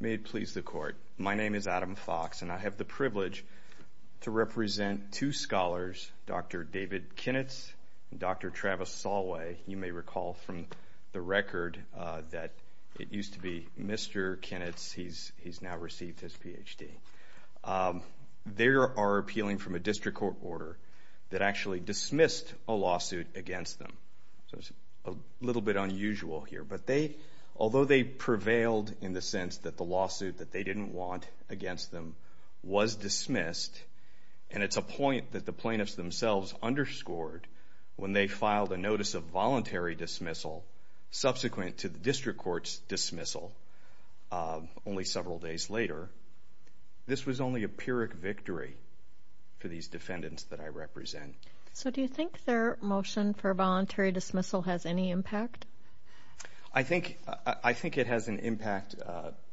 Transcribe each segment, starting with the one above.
May it please the Court, my name is Adam Fox, and I have the privilege to represent two scholars, Dr. David Kinitz and Dr. Travis Solway. You may recall from the record that it used to be Mr. Kinitz, he's now received his Ph.D. They are appealing from a district court order that actually dismissed a lawsuit against them. So it's a little bit unusual here, but although they prevailed in the sense that the lawsuit that they didn't want against them was dismissed, and it's a point that the plaintiffs themselves underscored when they filed a notice of voluntary dismissal subsequent to the district court's dismissal only several days later, this was only a pyrrhic victory for these defendants that I represent. So do you think their motion for voluntary dismissal has any impact? I think it has an impact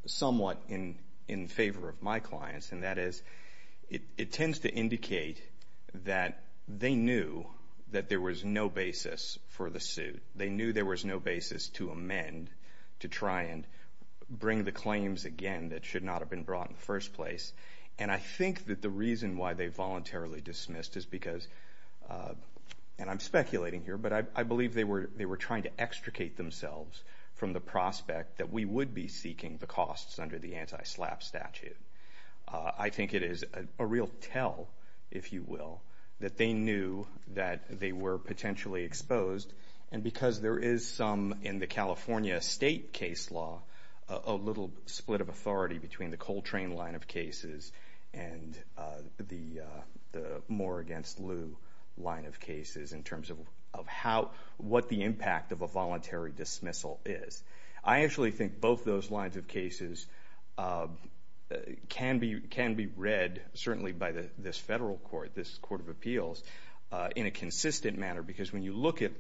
somewhat in favor of my clients, and that is it tends to indicate that they knew that there was no basis for the suit. They knew there was no basis to amend, to try and bring the claims again that should not have been brought in the first place. And I think that the reason why they voluntarily dismissed is because, and I'm speculating here, but I believe they were trying to extricate themselves from the prospect that we would be seeking the costs under the anti-SLAPP statute. I think it is a real tell, if you will, that they knew that they were potentially exposed, and because there is some in the California state case law, a little split of authority between the Coltrane line of cases and the Moore v. Liu line of cases in terms of what the impact of a voluntary dismissal is. I actually think both those lines of cases can be read, certainly by this federal court, this Court of Appeals, in a consistent manner, because when you look at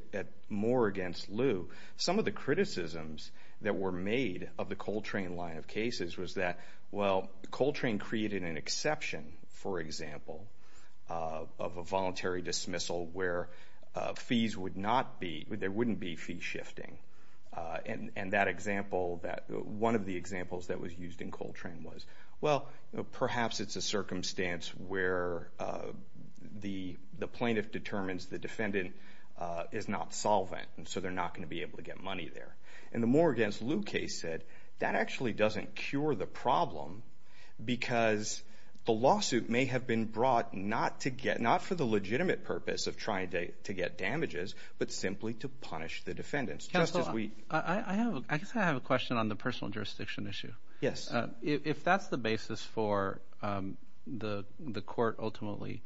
Moore v. Liu, some of the criticisms that were made of the Coltrane line of cases was that, well, Coltrane created an exception, for example, of a voluntary dismissal where there wouldn't be fee shifting, and that example, one of the examples that was used in Coltrane was, well, perhaps it's a circumstance where the plaintiff determines the defendant is not solvent, and so they're not going to be able to get money there. And the Moore v. Liu case said, that actually doesn't cure the problem because the lawsuit may have been brought not for the legitimate purpose of trying to get damages, but simply to punish the defendants, just as we... I guess I have a question on the personal jurisdiction issue. Yes. If that's the basis for the court ultimately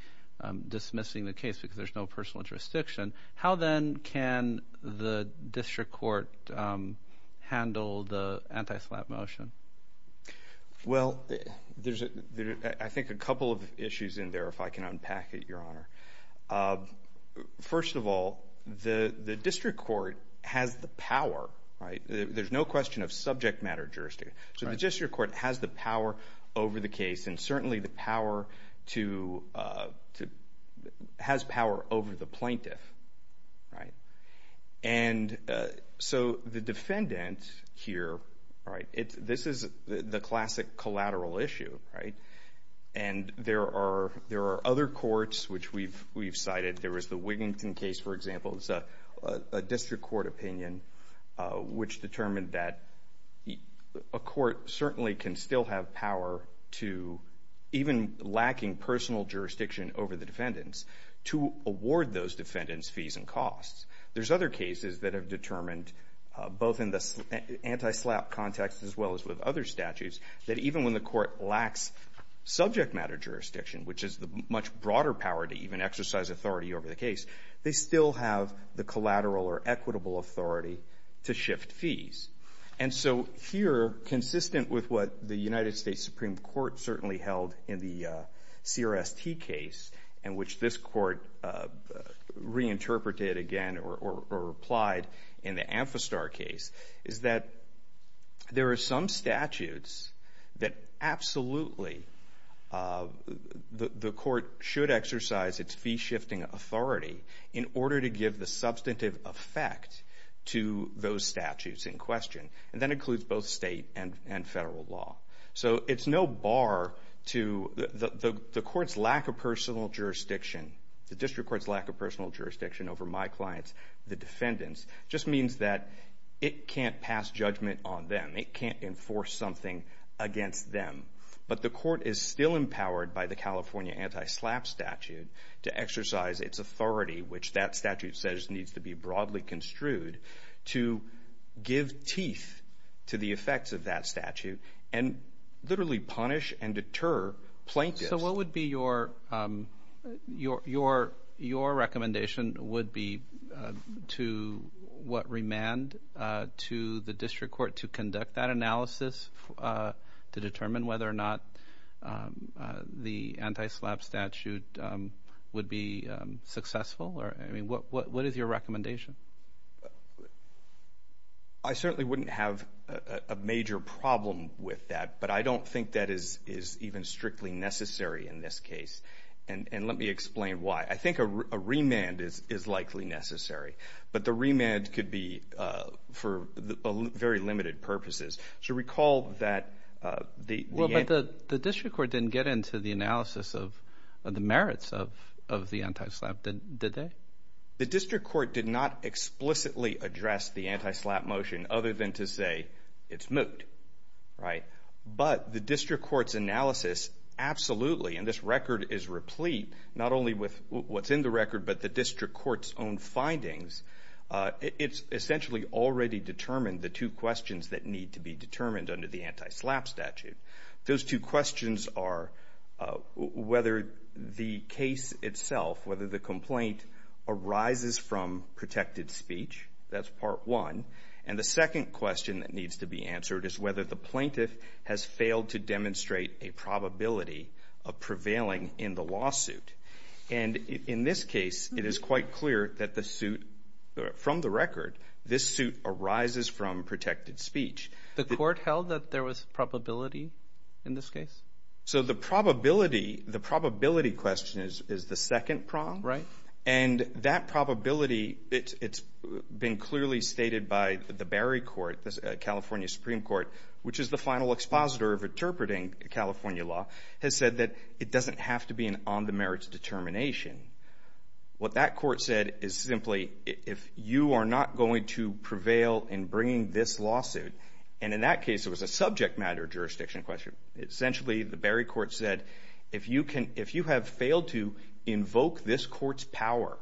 dismissing the case because there's no personal jurisdiction, how then can the district court handle the anti-SLAPP motion? Well, there's, I think, a couple of issues in there, if I can unpack it, Your Honor. First of all, the district court has the power, right? There's no question of subject matter jurisdiction, so the district court has the power over the case and certainly has power over the plaintiff, right? And so the defendant here, right, this is the classic collateral issue, right? And there are other courts which we've cited. There was the Wigington case, for example, it's a district court opinion which determined that a court certainly can still have power to, even lacking personal jurisdiction over the defendants, to award those defendants fees and costs. There's other cases that have determined, both in the anti-SLAPP context as well as with other statutes, that even when the court lacks subject matter jurisdiction, which is the much broader power to even exercise authority over the case, they still have the collateral or equitable authority to shift fees. And so here, consistent with what the United States Supreme Court certainly held in the CRST case, and which this court reinterpreted again or applied in the Amphistar case, is that there are some statutes that absolutely the court should exercise its fee-shifting authority in order to give the substantive effect to those statutes in question, and that includes both state and federal law. So it's no bar to the court's lack of personal jurisdiction, the district court's lack of It can't enforce something against them. But the court is still empowered by the California anti-SLAPP statute to exercise its authority, which that statute says needs to be broadly construed, to give teeth to the effects of that statute and literally punish and deter plaintiffs. So what would be your recommendation would be to what remand to the district court to conduct that analysis to determine whether or not the anti-SLAPP statute would be successful? What is your recommendation? I certainly wouldn't have a major problem with that, but I don't think that is even strictly necessary in this case, and let me explain why. I think a remand is likely necessary, but the remand could be for very limited purposes. So recall that the Well, but the district court didn't get into the analysis of the merits of the anti-SLAPP, did they? The district court did not explicitly address the anti-SLAPP motion other than to say it's But the district court's analysis absolutely, and this record is replete not only with what's in the record, but the district court's own findings, it's essentially already determined the two questions that need to be determined under the anti-SLAPP statute. Those two questions are whether the case itself, whether the complaint arises from protected speech, that's part one, and the second question that needs to be answered is whether the plaintiff has failed to demonstrate a probability of prevailing in the lawsuit, and in this case, it is quite clear that the suit, from the record, this suit arises from protected speech. The court held that there was probability in this case? So the probability, the probability question is the second prong, and that probability, it's been clearly stated by the Berry Court, the California Supreme Court, which is the final expositor of interpreting California law, has said that it doesn't have to be an on-the-merits determination. What that court said is simply, if you are not going to prevail in bringing this lawsuit, and in that case, it was a subject matter jurisdiction question, essentially, the Berry invoke this court's power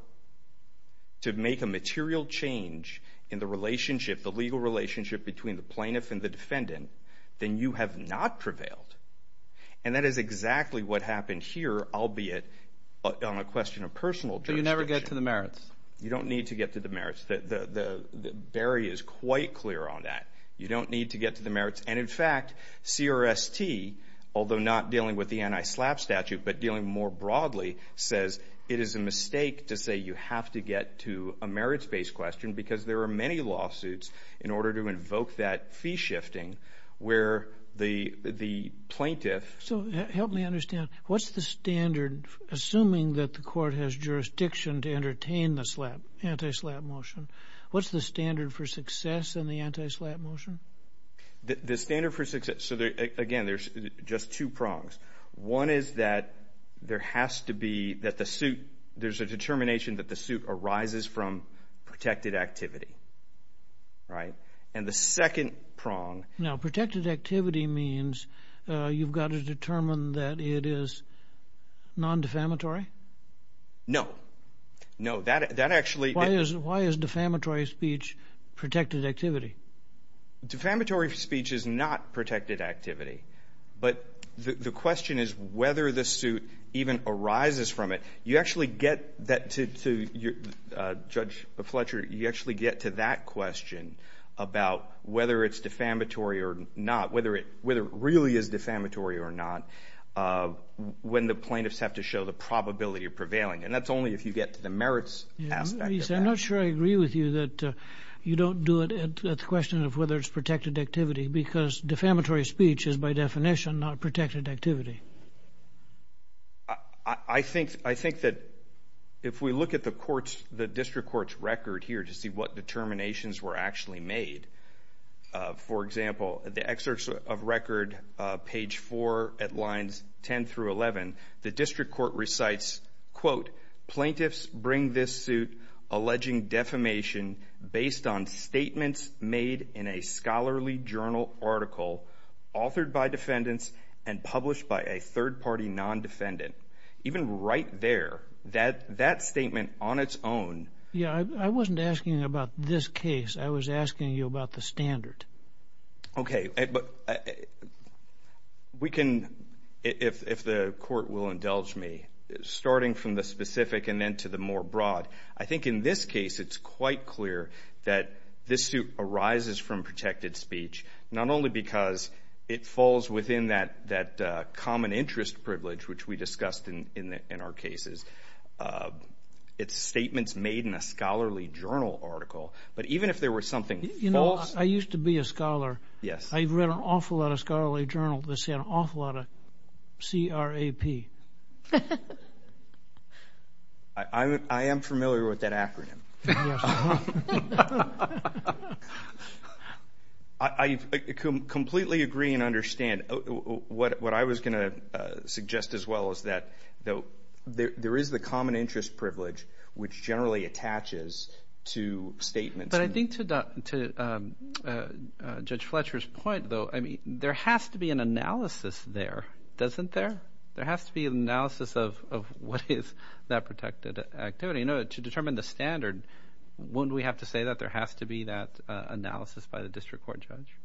to make a material change in the relationship, the legal relationship between the plaintiff and the defendant, then you have not prevailed, and that is exactly what happened here, albeit on a question of personal jurisdiction. So you never get to the merits? You don't need to get to the merits. Berry is quite clear on that. You don't need to get to the merits, and in fact, CRST, although not dealing with the case broadly, says it is a mistake to say you have to get to a merits-based question because there are many lawsuits in order to invoke that fee shifting where the plaintiff So, help me understand, what's the standard, assuming that the court has jurisdiction to entertain the anti-SLAPP motion, what's the standard for success in the anti-SLAPP motion? The standard for success, so again, there's just two prongs. One is that there has to be, that the suit, there's a determination that the suit arises from protected activity, right? And the second prong... Now protected activity means you've got to determine that it is non-defamatory? No, no, that actually... Why is defamatory speech protected activity? Defamatory speech is not protected activity, but the question is whether the suit even arises from it. You actually get that to Judge Fletcher, you actually get to that question about whether it's defamatory or not, whether it really is defamatory or not, when the plaintiffs have to show the probability of prevailing, and that's only if you get to the merits aspect of that. I'm not sure I agree with you that you don't do it at the question of whether it's protected activity because defamatory speech is by definition not protected activity. I think that if we look at the court's, the district court's record here to see what determinations were actually made, for example, the excerpts of record page four at lines 10 through 11, the district court recites, quote, plaintiffs bring this suit alleging defamation based on statements made in a scholarly journal article authored by defendants and published by a third party non-defendant. Even right there, that statement on its own... Yeah, I wasn't asking about this case, I was asking you about the standard. Okay, but we can, if the court will indulge me, starting from the specific and then to the more broad, I think in this case it's quite clear that this suit arises from protected speech not only because it falls within that common interest privilege which we discussed in our cases, it's statements made in a scholarly journal article, but even if there were something false... You know, I used to be a scholar. Yes. I've read an awful lot of scholarly journals that say an awful lot of C-R-A-P. I am familiar with that acronym. I completely agree and understand. What I was going to suggest as well is that there is the common interest privilege which generally attaches to statements... But I think to Judge Fletcher's point though, there has to be an analysis there, doesn't there? There has to be an analysis of what is that protected activity. To determine the standard, wouldn't we have to say that there has to be that analysis by the district court judge?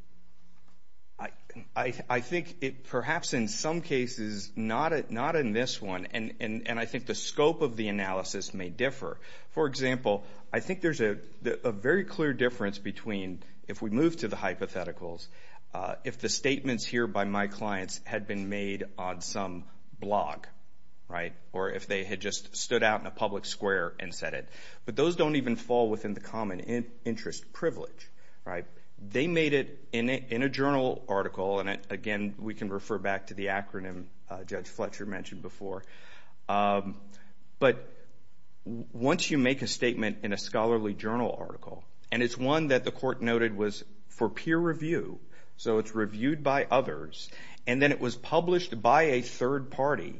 I think perhaps in some cases, not in this one, and I think the scope of the analysis may differ. For example, I think there's a very clear difference between, if we move to the hypotheticals, if the statements here by my clients had been made on some blog, or if they had just stood out in a public square and said it. But those don't even fall within the common interest privilege. They made it in a journal article, and again, we can refer back to the acronym Judge Fletcher mentioned before. But once you make a statement in a scholarly journal article, and it's one that the court noted was for peer review, so it's reviewed by others, and then it was published by a third party,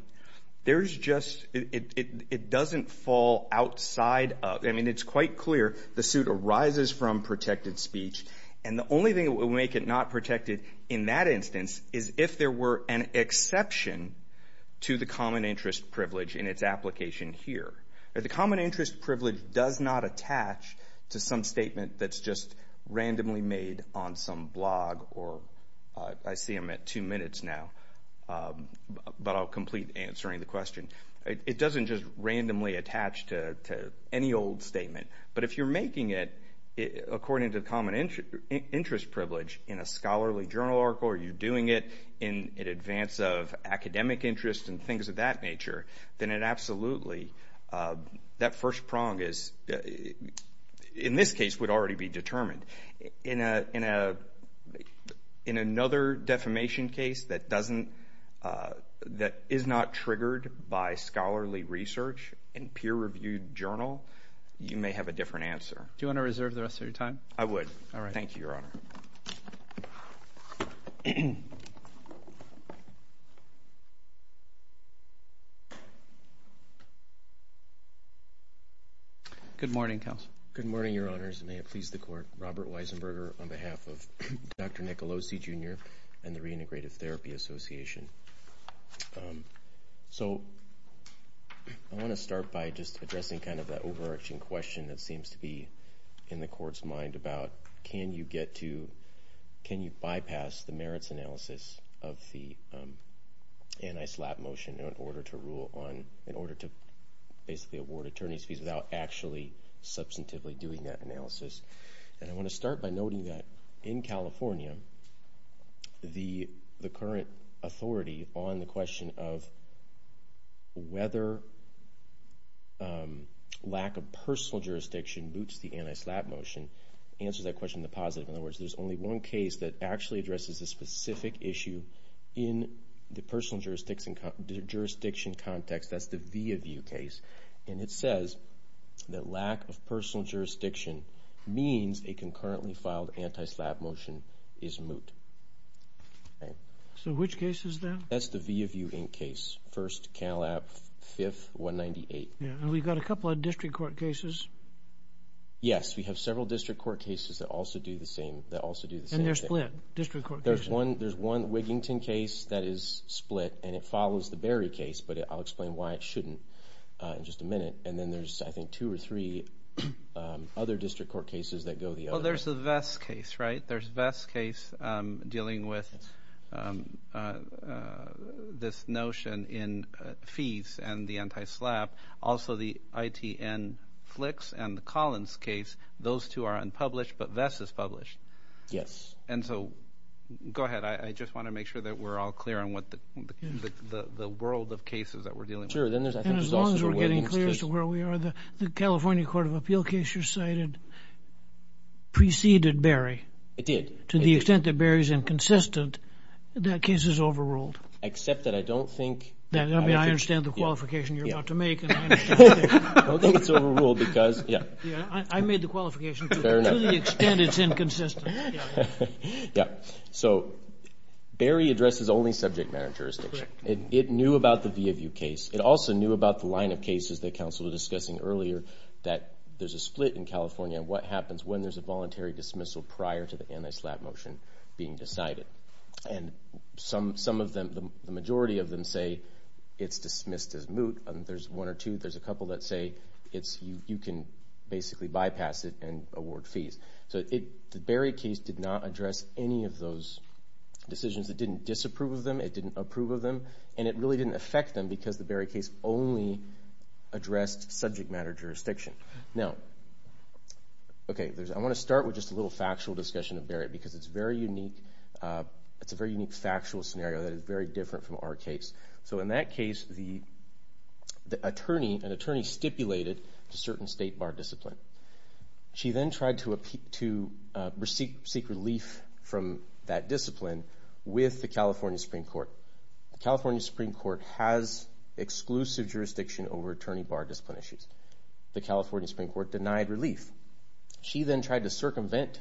it doesn't fall outside of... It's quite clear the suit arises from protected speech, and the only thing that would make it not protected in that instance is if there were an exception to the common interest privilege in its application here. The common interest privilege does not attach to some statement that's just randomly made on some blog, or I see I'm at two minutes now, but I'll complete answering the question. It doesn't just randomly attach to any old statement, but if you're making it according to the common interest privilege in a scholarly journal article, or you're doing it in advance of academic interest and things of that nature, then it absolutely... That first prong is, in this case, would already be determined. In another defamation case that is not triggered by scholarly research in peer-reviewed journal, you may have a different answer. Do you want to reserve the rest of your time? I would. Thank you, Your Honor. Good morning, Counsel. Good morning, Your Honors, and may it please the Court. Robert Weisenberger on behalf of Dr. Nicolosi, Jr. and the Reintegrative Therapy Association. I want to start by just addressing that overarching question that seems to be in the Court's mind about, can you bypass the merits analysis of the anti-SLAPP motion in order to rule on... In order to basically award attorney's fees without actually substantively doing that analysis. And I want to start by noting that, in California, the current authority on the question of whether lack of personal jurisdiction boots the anti-SLAPP motion answers that question in the positive. In other words, there's only one case that actually addresses this specific issue in the personal jurisdiction context. That's the via view case. And it says that lack of personal jurisdiction means a concurrently filed anti-SLAPP motion is moot. So which case is that? That's the via view case. First, Canalap, 5th, 198. And we've got a couple of district court cases. Yes, we have several district court cases that also do the same thing. And they're split? District court cases? There's one Wigington case that is split, and it follows the Berry case, but I'll explain why it shouldn't in just a minute. And then there's, I think, two or three other district court cases that go the other way. Well, there's the Vess case, right? There's Vess case dealing with this notion in fees and the anti-SLAPP. Also, the ITN Flicks and the Collins case. Those two are unpublished, but Vess is published. Yes. And so, go ahead. I just want to make sure that we're all clear on what the world of cases that we're dealing And as long as we're getting clear as to where we are, the California Court of Appeal case you cited preceded Berry. It did. To the extent that Berry's inconsistent, that case is overruled. Except that I don't think... I mean, I understand the qualification you're about to make. I don't think it's overruled because... I made the qualification too. To the extent it's inconsistent. Yes. So, Berry addresses only subject matter jurisdiction. It knew about the via view case. It also knew about the line of cases that counsel was discussing earlier that there's a split in California and what happens when there's a voluntary dismissal prior to the anti-SLAPP motion being decided. And some of them, the majority of them, say it's dismissed as moot. There's one or two. There's a couple that say you can basically bypass it and award fees. So, the Berry case did not address any of those decisions. It didn't disapprove of them. It didn't approve of them. And it really didn't affect them because the Berry case only addressed subject matter jurisdiction. Now, I want to start with just a little factual discussion of Berry because it's a very unique factual scenario that is very different from our case. So, in that case, an attorney stipulated a certain state bar discipline. She then tried to seek relief from that discipline with the California Supreme Court. The California Supreme Court has exclusive jurisdiction over attorney bar discipline issues. The California Supreme Court denied relief. She then tried to circumvent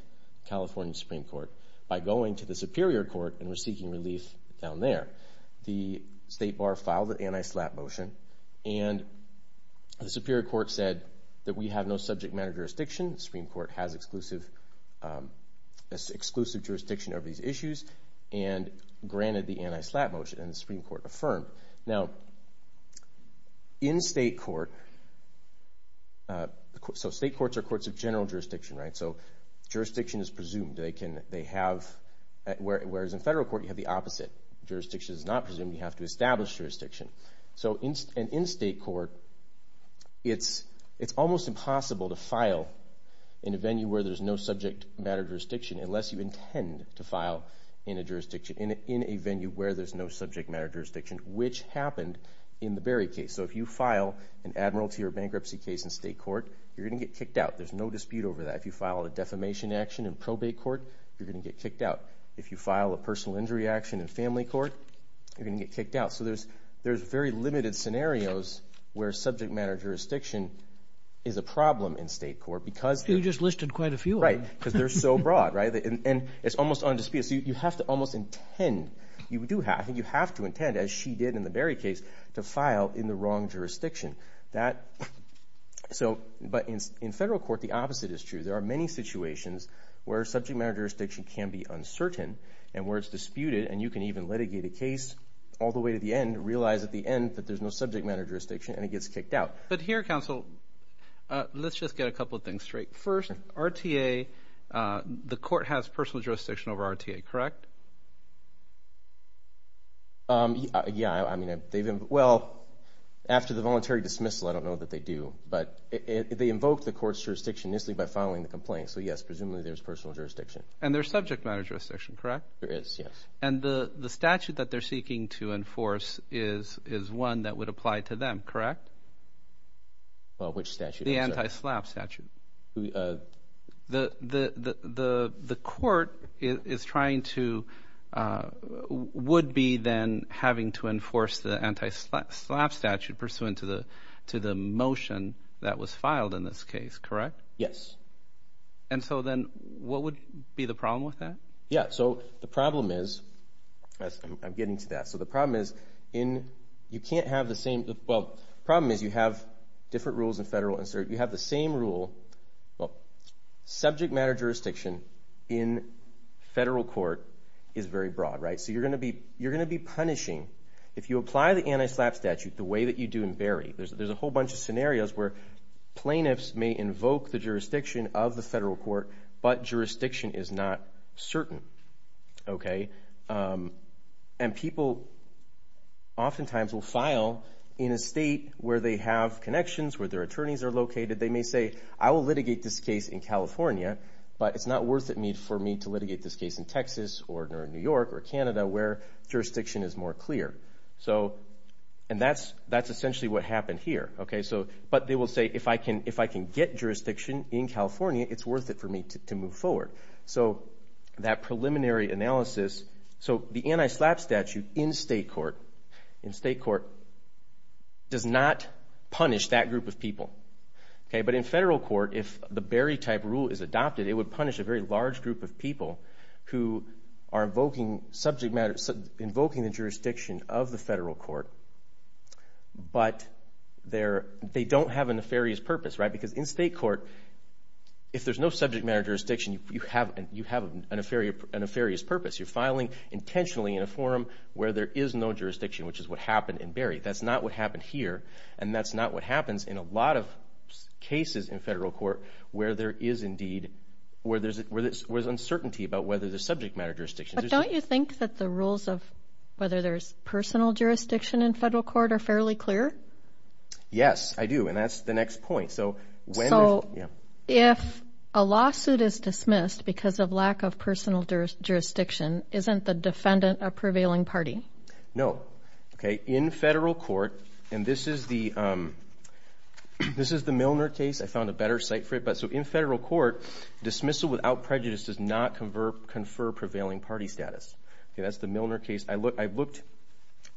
the California Supreme Court by going to the Superior Court and was seeking relief down there. The state bar filed an anti-SLAPP motion and the Superior Court said that we have no subject matter jurisdiction. The Supreme Court has exclusive jurisdiction over these issues and granted the anti-SLAPP motion and the Supreme Court affirmed. Now, in state court... So, state courts are courts of general jurisdiction, right? So, jurisdiction is presumed. They have... Whereas in federal court, you have the opposite. Jurisdiction is not presumed. You have to establish jurisdiction. So, in state court, it's almost impossible to file in a venue where there's no subject matter jurisdiction unless you intend to file in a venue where there's no subject matter jurisdiction, which happened in the Berry case. So, if you file an admiralty or bankruptcy case in state court, you're going to get kicked out. There's no dispute over that. If you file a defamation action in probate court, you're going to get kicked out. If you file a personal injury action in family court, you're going to get kicked out. So, there's very limited scenarios where subject matter jurisdiction is a problem in state court because... You just listed quite a few of them. Because they're so broad, right? And it's almost undisputed. So, you have to almost intend. You do have and you have to intend, as she did in the Berry case, to file in the wrong jurisdiction. That... So, but in federal court, the opposite is true. There are many situations where subject matter jurisdiction can be uncertain and where it's disputed and you can even litigate a case all the way to the end, realize at the end that there's no subject matter jurisdiction and it gets kicked out. But here, counsel, let's just get a couple of things straight. First, RTA, the court has personal jurisdiction over RTA, correct? Yeah, I mean, they've... Well, after the voluntary dismissal, I don't know that they do, but they invoked the court's jurisdiction initially by filing the complaint. So, yes, presumably there's personal jurisdiction. And there's subject matter jurisdiction, correct? There is, yes. And the statute that they're seeking to enforce is one that would apply to them, correct? Well, which statute? The anti-SLAPP statute. The court is trying to... would be then having to enforce the anti-SLAPP statute pursuant to the motion that was filed in this case, correct? Yes. And so then what would be the problem with that? Yeah, so the problem is... I'm getting to that. So the problem is in... You can't have the same... Well, the problem is you have different rules in federal... You have the same rule... Subject matter jurisdiction in federal court is very broad, right? So you're going to be punishing... If you apply the anti-SLAPP statute the way that you do in Barry, there's a whole bunch of scenarios where plaintiffs may invoke the jurisdiction of the federal court, but jurisdiction is not certain, okay? And people oftentimes will file in a state where they have connections, where their attorneys are located. They may say, I will litigate this case in California, but it's not worth it for me to litigate this case in Texas or in New York or Canada where jurisdiction is more clear. And that's essentially what happened here, okay? But they will say, if I can get jurisdiction in California, it's worth it for me to move forward. So that preliminary analysis... So the anti-SLAPP statute in state court does not punish that group of people, okay? But in federal court, if the Barry-type rule is adopted, it would punish a very large group of people who are invoking the jurisdiction of the federal court, but they don't have a nefarious purpose, right? Because in state court, if there's no subject matter jurisdiction, you have a nefarious purpose. You're filing intentionally in a forum where there is no jurisdiction, which is what happened in Barry. That's not what happened here, and that's not what happens in a lot of cases in federal court where there is uncertainty about whether there's subject matter jurisdiction. But don't you think that the rules of whether there's personal jurisdiction in federal court are fairly clear? Yes, I do, and that's the next point. So if a lawsuit is dismissed because of lack of personal jurisdiction, isn't the defendant a prevailing party? No. In federal court, and this is the Milner case. I found a better site for it. So in federal court, dismissal without prejudice does not confer prevailing party status. That's the Milner case. I looked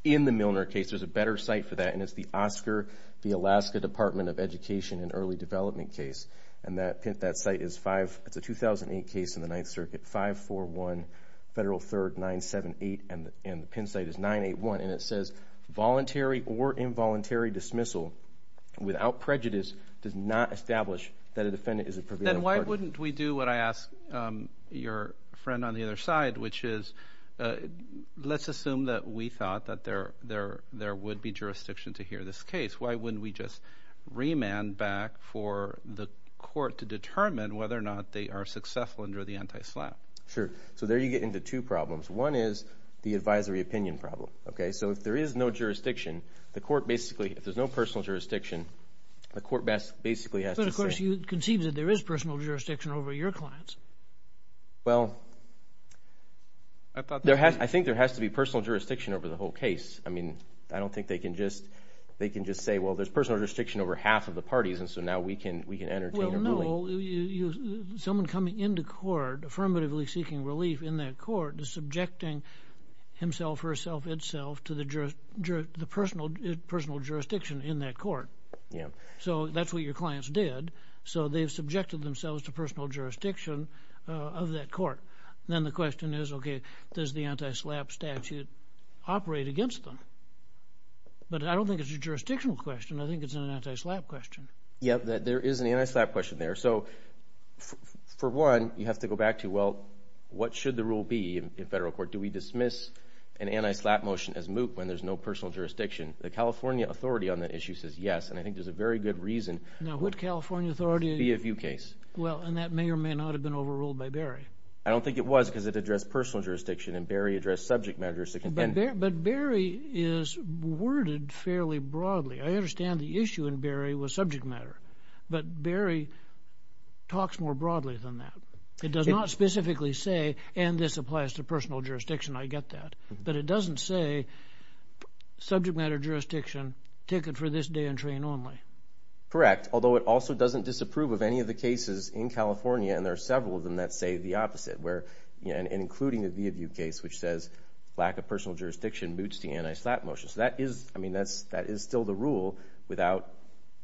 in the Milner case. There's a better site for that, and it's the Oscar, the Alaska Department of Education and Early Development case, and that site is a 2008 case in the Ninth Circuit, 5-4-1, Federal 3rd, 978, and the Penn site is 981, and it says voluntary or involuntary dismissal without prejudice does not establish that a defendant is a prevailing party. Then why wouldn't we do what I asked your friend on the other side, which is let's assume that we thought that there would be jurisdiction to hear this case. Why wouldn't we just remand back for the court to determine whether or not they are successful under the anti-SLAPP? Sure. So there you get into two problems. One is the advisory opinion problem. So if there is no jurisdiction, the court basically, if there's no personal jurisdiction, the court basically has to say... But of course you conceived that there is personal jurisdiction over your clients. Well, I think there has to be personal jurisdiction over the whole case. I don't think they can just say, well, there's personal jurisdiction over half of the parties, and so now we can entertain a ruling. So someone coming into court, affirmatively seeking relief in that court, is subjecting himself or herself itself to the personal jurisdiction in that court. Yeah. So that's what your clients did. So they've subjected themselves to personal jurisdiction of that court. Then the question is, okay, does the anti-SLAPP statute operate against them? But I don't think it's a jurisdictional question. I think it's an anti-SLAPP question. Yeah, there is an anti-SLAPP question there. So for one, you have to go back to, well, what should the rule be in federal court? Do we dismiss an anti-SLAPP motion as moot when there's no personal jurisdiction? The California authority on that issue says yes, and I think there's a very good reason... Now, would California authority... ...be a view case? Well, and that may or may not have been overruled by Berry. I don't think it was because it addressed personal jurisdiction and Berry addressed subject matter jurisdiction. But Berry is worded fairly broadly. I understand the issue in Berry was subject matter, but Berry talks more broadly than that. It does not specifically say, and this applies to personal jurisdiction, I get that. But it doesn't say subject matter jurisdiction, ticket for this day and train only. Correct. Although it also doesn't disapprove of any of the cases in California, and there are several of them that say the opposite, including a view case which says lack of personal jurisdiction moots the anti-SLAPP motion. So that is still the rule without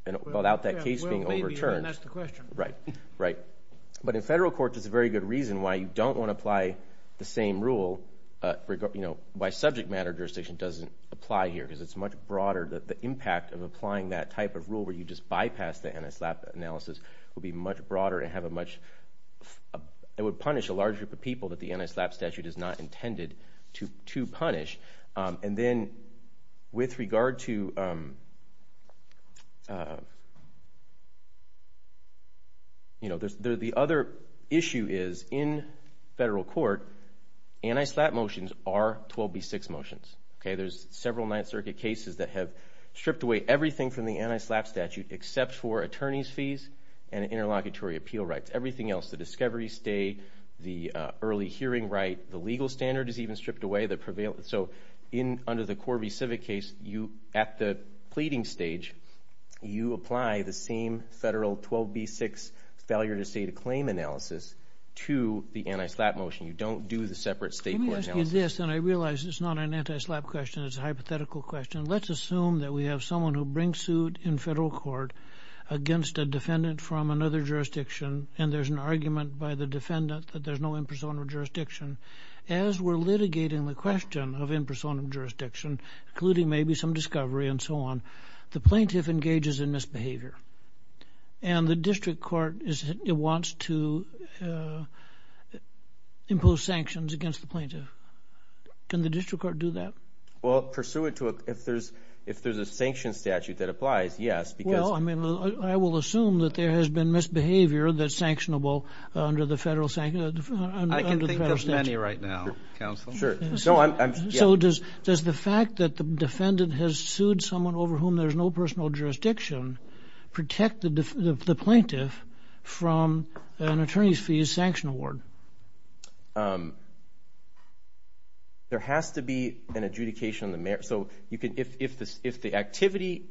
that case being overturned. Well, maybe, and that's the question. Right, right. But in federal courts, it's a very good reason why you don't want to apply the same rule by subject matter jurisdiction doesn't apply here, because it's much broader that the impact of applying that type of rule where you just bypass the anti-SLAPP analysis would be much broader and have a much... It would punish a large group of people that the anti-SLAPP statute is not intended to punish. And then with regard to... The other issue is in federal court, anti-SLAPP motions are 12B6 motions. There's several Ninth Circuit cases that have stripped away everything from the anti-SLAPP statute except for attorney's fees and interlocutory appeal rights. Everything else, the discovery stay, the early hearing right, the legal standard is even stripped away. So under the Corby Civic case, at the pleading stage, you apply the same federal 12B6 failure to state a claim analysis to the anti-SLAPP motion. You don't do the separate state court analysis. Let me ask you this, and I realize it's not an anti-SLAPP question, it's a hypothetical question. Let's assume that we have someone who brings suit in federal court against a defendant from another jurisdiction and there's an argument by the defendant that there's no impersonal jurisdiction. As we're litigating the question of impersonal jurisdiction, including maybe some discovery and so on, the plaintiff engages in misbehavior. And the district court wants to impose sanctions against the plaintiff. Can the district court do that? Well, if there's a sanction statute that applies, yes, because... Well, I will assume that there has been misbehavior that's sanctionable under the federal statute. I can think of many right now, counsel. Sure. So does the fact that the defendant has sued someone over whom there's no personal jurisdiction protect the plaintiff from an attorney's fees sanction award? There has to be an adjudication on the merits. So if the activity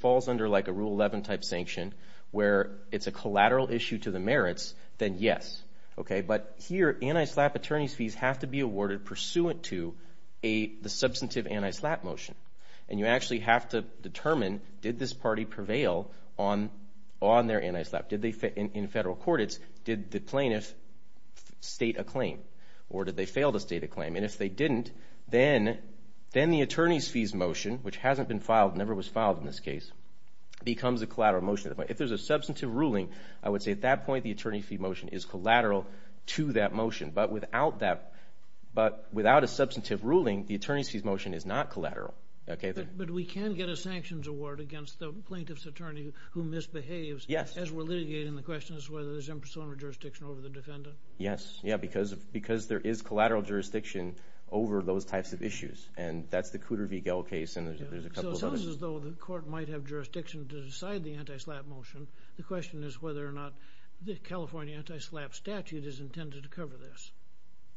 falls under like a Rule 11 type sanction where it's a collateral issue to the merits, then yes. But here, anti-SLAPP attorney's fees have to be awarded pursuant to the substantive anti-SLAPP motion. And you actually have to determine, did this party prevail on their anti-SLAPP? In federal court it's, did the plaintiff state a claim? Or did they fail to state a claim? And if they didn't, then the attorney's fees motion, which hasn't been filed, never was filed in this case, becomes a collateral motion. If there's a substantive ruling, I would say at that point the attorney's fees motion is collateral to that motion. But without a substantive ruling, the attorney's fees motion is not collateral. But we can get a sanctions award against the plaintiff's attorney who misbehaves as we're litigating the questions whether there's impersonal jurisdiction over the defendant? Yes, because there is collateral jurisdiction over those types of issues. And that's the Cooter v. Gell case and there's a couple of others. So it sounds as though the court might have jurisdiction to decide the anti-SLAPP motion. The question is whether or not the California anti-SLAPP statute is intended to cover this.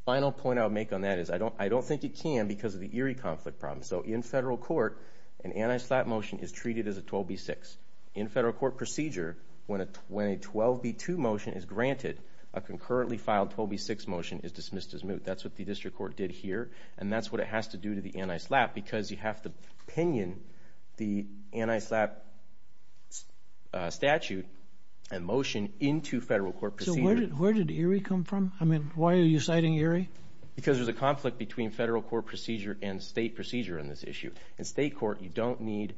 The final point I would make on that is, I don't think it can because of the Erie conflict problem. So in federal court, an anti-SLAPP motion is treated as a 12b-6. In federal court procedure, when a 12b-2 motion is granted, a concurrently filed 12b-6 motion is dismissed as moot. That's what the district court did here. And that's what it has to do to the anti-SLAPP because you have to pinion the anti-SLAPP statute and motion into federal court procedure. So where did Erie come from? I mean, why are you citing Erie? Because there's a conflict between federal court procedure and state procedure on this issue. In state court, you don't need...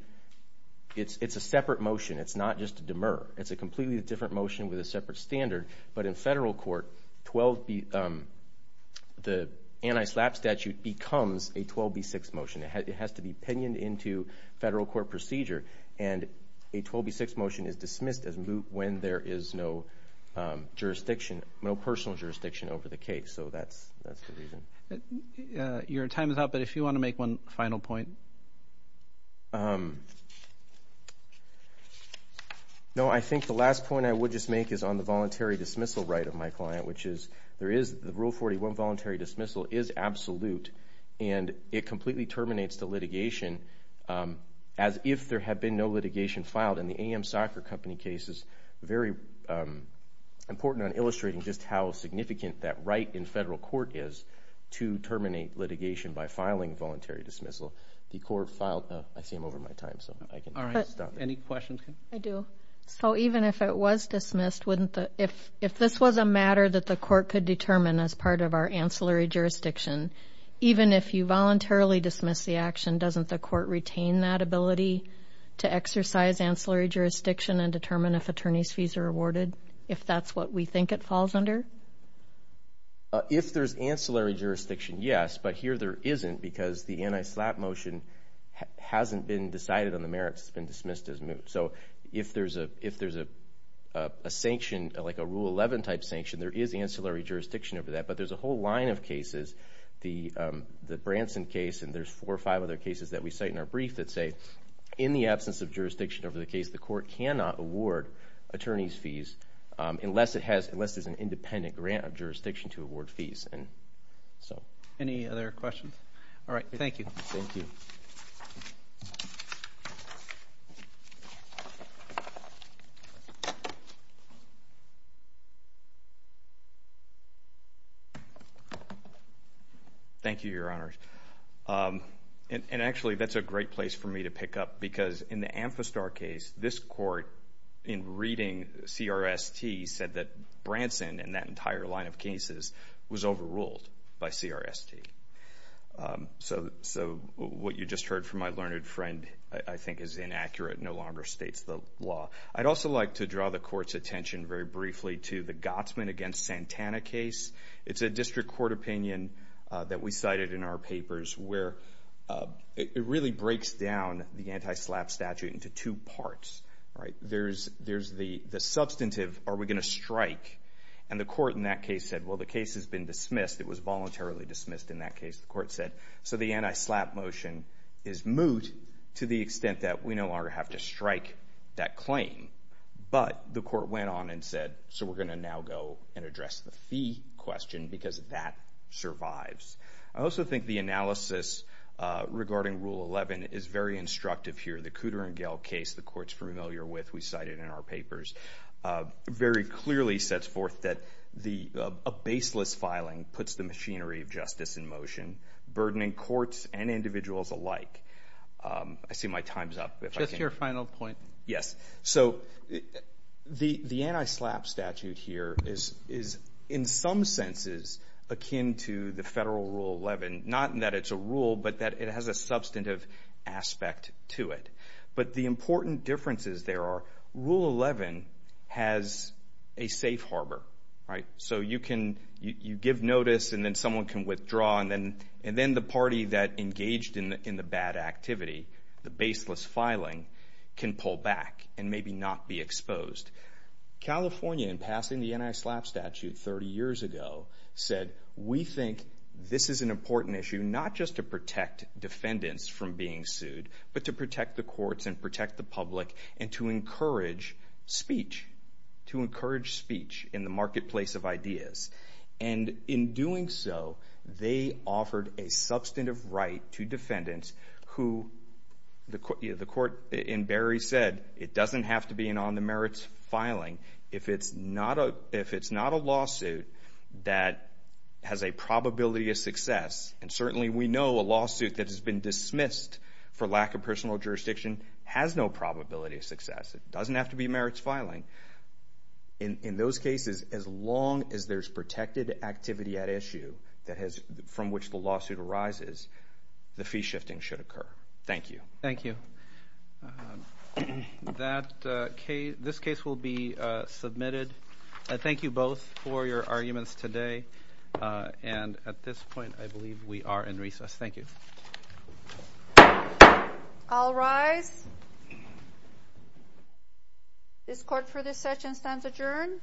It's a separate motion. It's not just a demur. It's a completely different motion with a separate standard. But in federal court, the anti-SLAPP statute becomes a 12b-6 motion. It has to be pinioned into federal court procedure. And a 12b-6 motion is dismissed as moot when there is no jurisdiction, no personal jurisdiction over the case. So that's the reason. Your time is up, but if you want to make one final point... No, I think the last point I would just make is on the voluntary dismissal right of my client, which is there is... Rule 41, voluntary dismissal, is absolute. And it completely terminates the litigation as if there had been no litigation filed. In the AM Soccer Company case, it's very important on illustrating just how significant that right in federal court is to terminate litigation by filing voluntary dismissal. The court filed... I see I'm over my time, so I can stop. Any questions? I do. So even if it was dismissed, if this was a matter that the court could determine as part of our ancillary jurisdiction, even if you voluntarily dismiss the action, doesn't the court retain that ability to exercise ancillary jurisdiction and determine if attorneys' fees are awarded, if that's what we think it falls under? If there's ancillary jurisdiction, yes, but here there isn't because the anti-SLAPP motion hasn't been decided on the merits. It's been dismissed as moot. So if there's a sanction, like a Rule 11-type sanction, there is ancillary jurisdiction over that, but there's a whole line of cases, the Branson case and there's four or five other cases that we cite in our brief that say in the absence of jurisdiction over the case, the court cannot award attorneys' fees unless there's an independent grant of jurisdiction to award fees. Any other questions? All right, thank you. Thank you, Your Honor. And actually, that's a great place for me to pick up because in the Amphistar case, this court, in reading CRST, said that Branson and that entire line of cases was overruled by CRST. So what you just heard from my learned friend, I think is inaccurate, no longer states the law. I'd also like to draw the court's attention very briefly to the Gotsman v. Branson case. It's a district court opinion that we cited in our papers where it really breaks down the anti-SLAPP statute into two parts, right? There's the substantive, are we going to strike? And the court in that case said, well, the case has been dismissed. It was voluntarily dismissed in that case. The court said, so the anti-SLAPP motion is moot to the extent that we no longer have to strike that claim. But the court went on and said, so we're going to now go and address the fee question because that survives. I also think the analysis regarding Rule 11 is very instructive here. The Cooter and Gehl case the court's familiar with, we cited in our papers, very clearly sets forth that a baseless filing puts the machinery of justice in motion, burdening courts and individuals alike. I see my time's up. Just your final point. Yes, so the anti-SLAPP statute here is in some senses akin to the federal Rule 11, not in that it's a rule, but that it has a substantive aspect to it. But the important differences there are, Rule 11 has a safe harbor, right? So you give notice, and then someone can withdraw, and then the party that engaged in the bad activity, the baseless filing, can pull back and maybe not be exposed. California, in passing the anti-SLAPP statute 30 years ago, said, we think this is an important issue, not just to protect defendants from being sued, but to protect the courts and protect the public, and to encourage speech, to encourage speech in the marketplace of ideas. And in doing so, they offered a substantive right to defendants who the court in Barry said, it doesn't have to be an on-the-merits filing if it's not a lawsuit that has a probability of success. And certainly we know a lawsuit that has been dismissed for lack of personal jurisdiction has no probability of success. It doesn't have to be a merits filing. In those cases, as long as there's protected activity at issue from which the lawsuit arises, the fee shifting should occur. Thank you. Thank you. This case will be submitted. Thank you both for your arguments today. And at this point, I believe we are in recess. Thank you. I'll rise. This court for this session stands adjourned.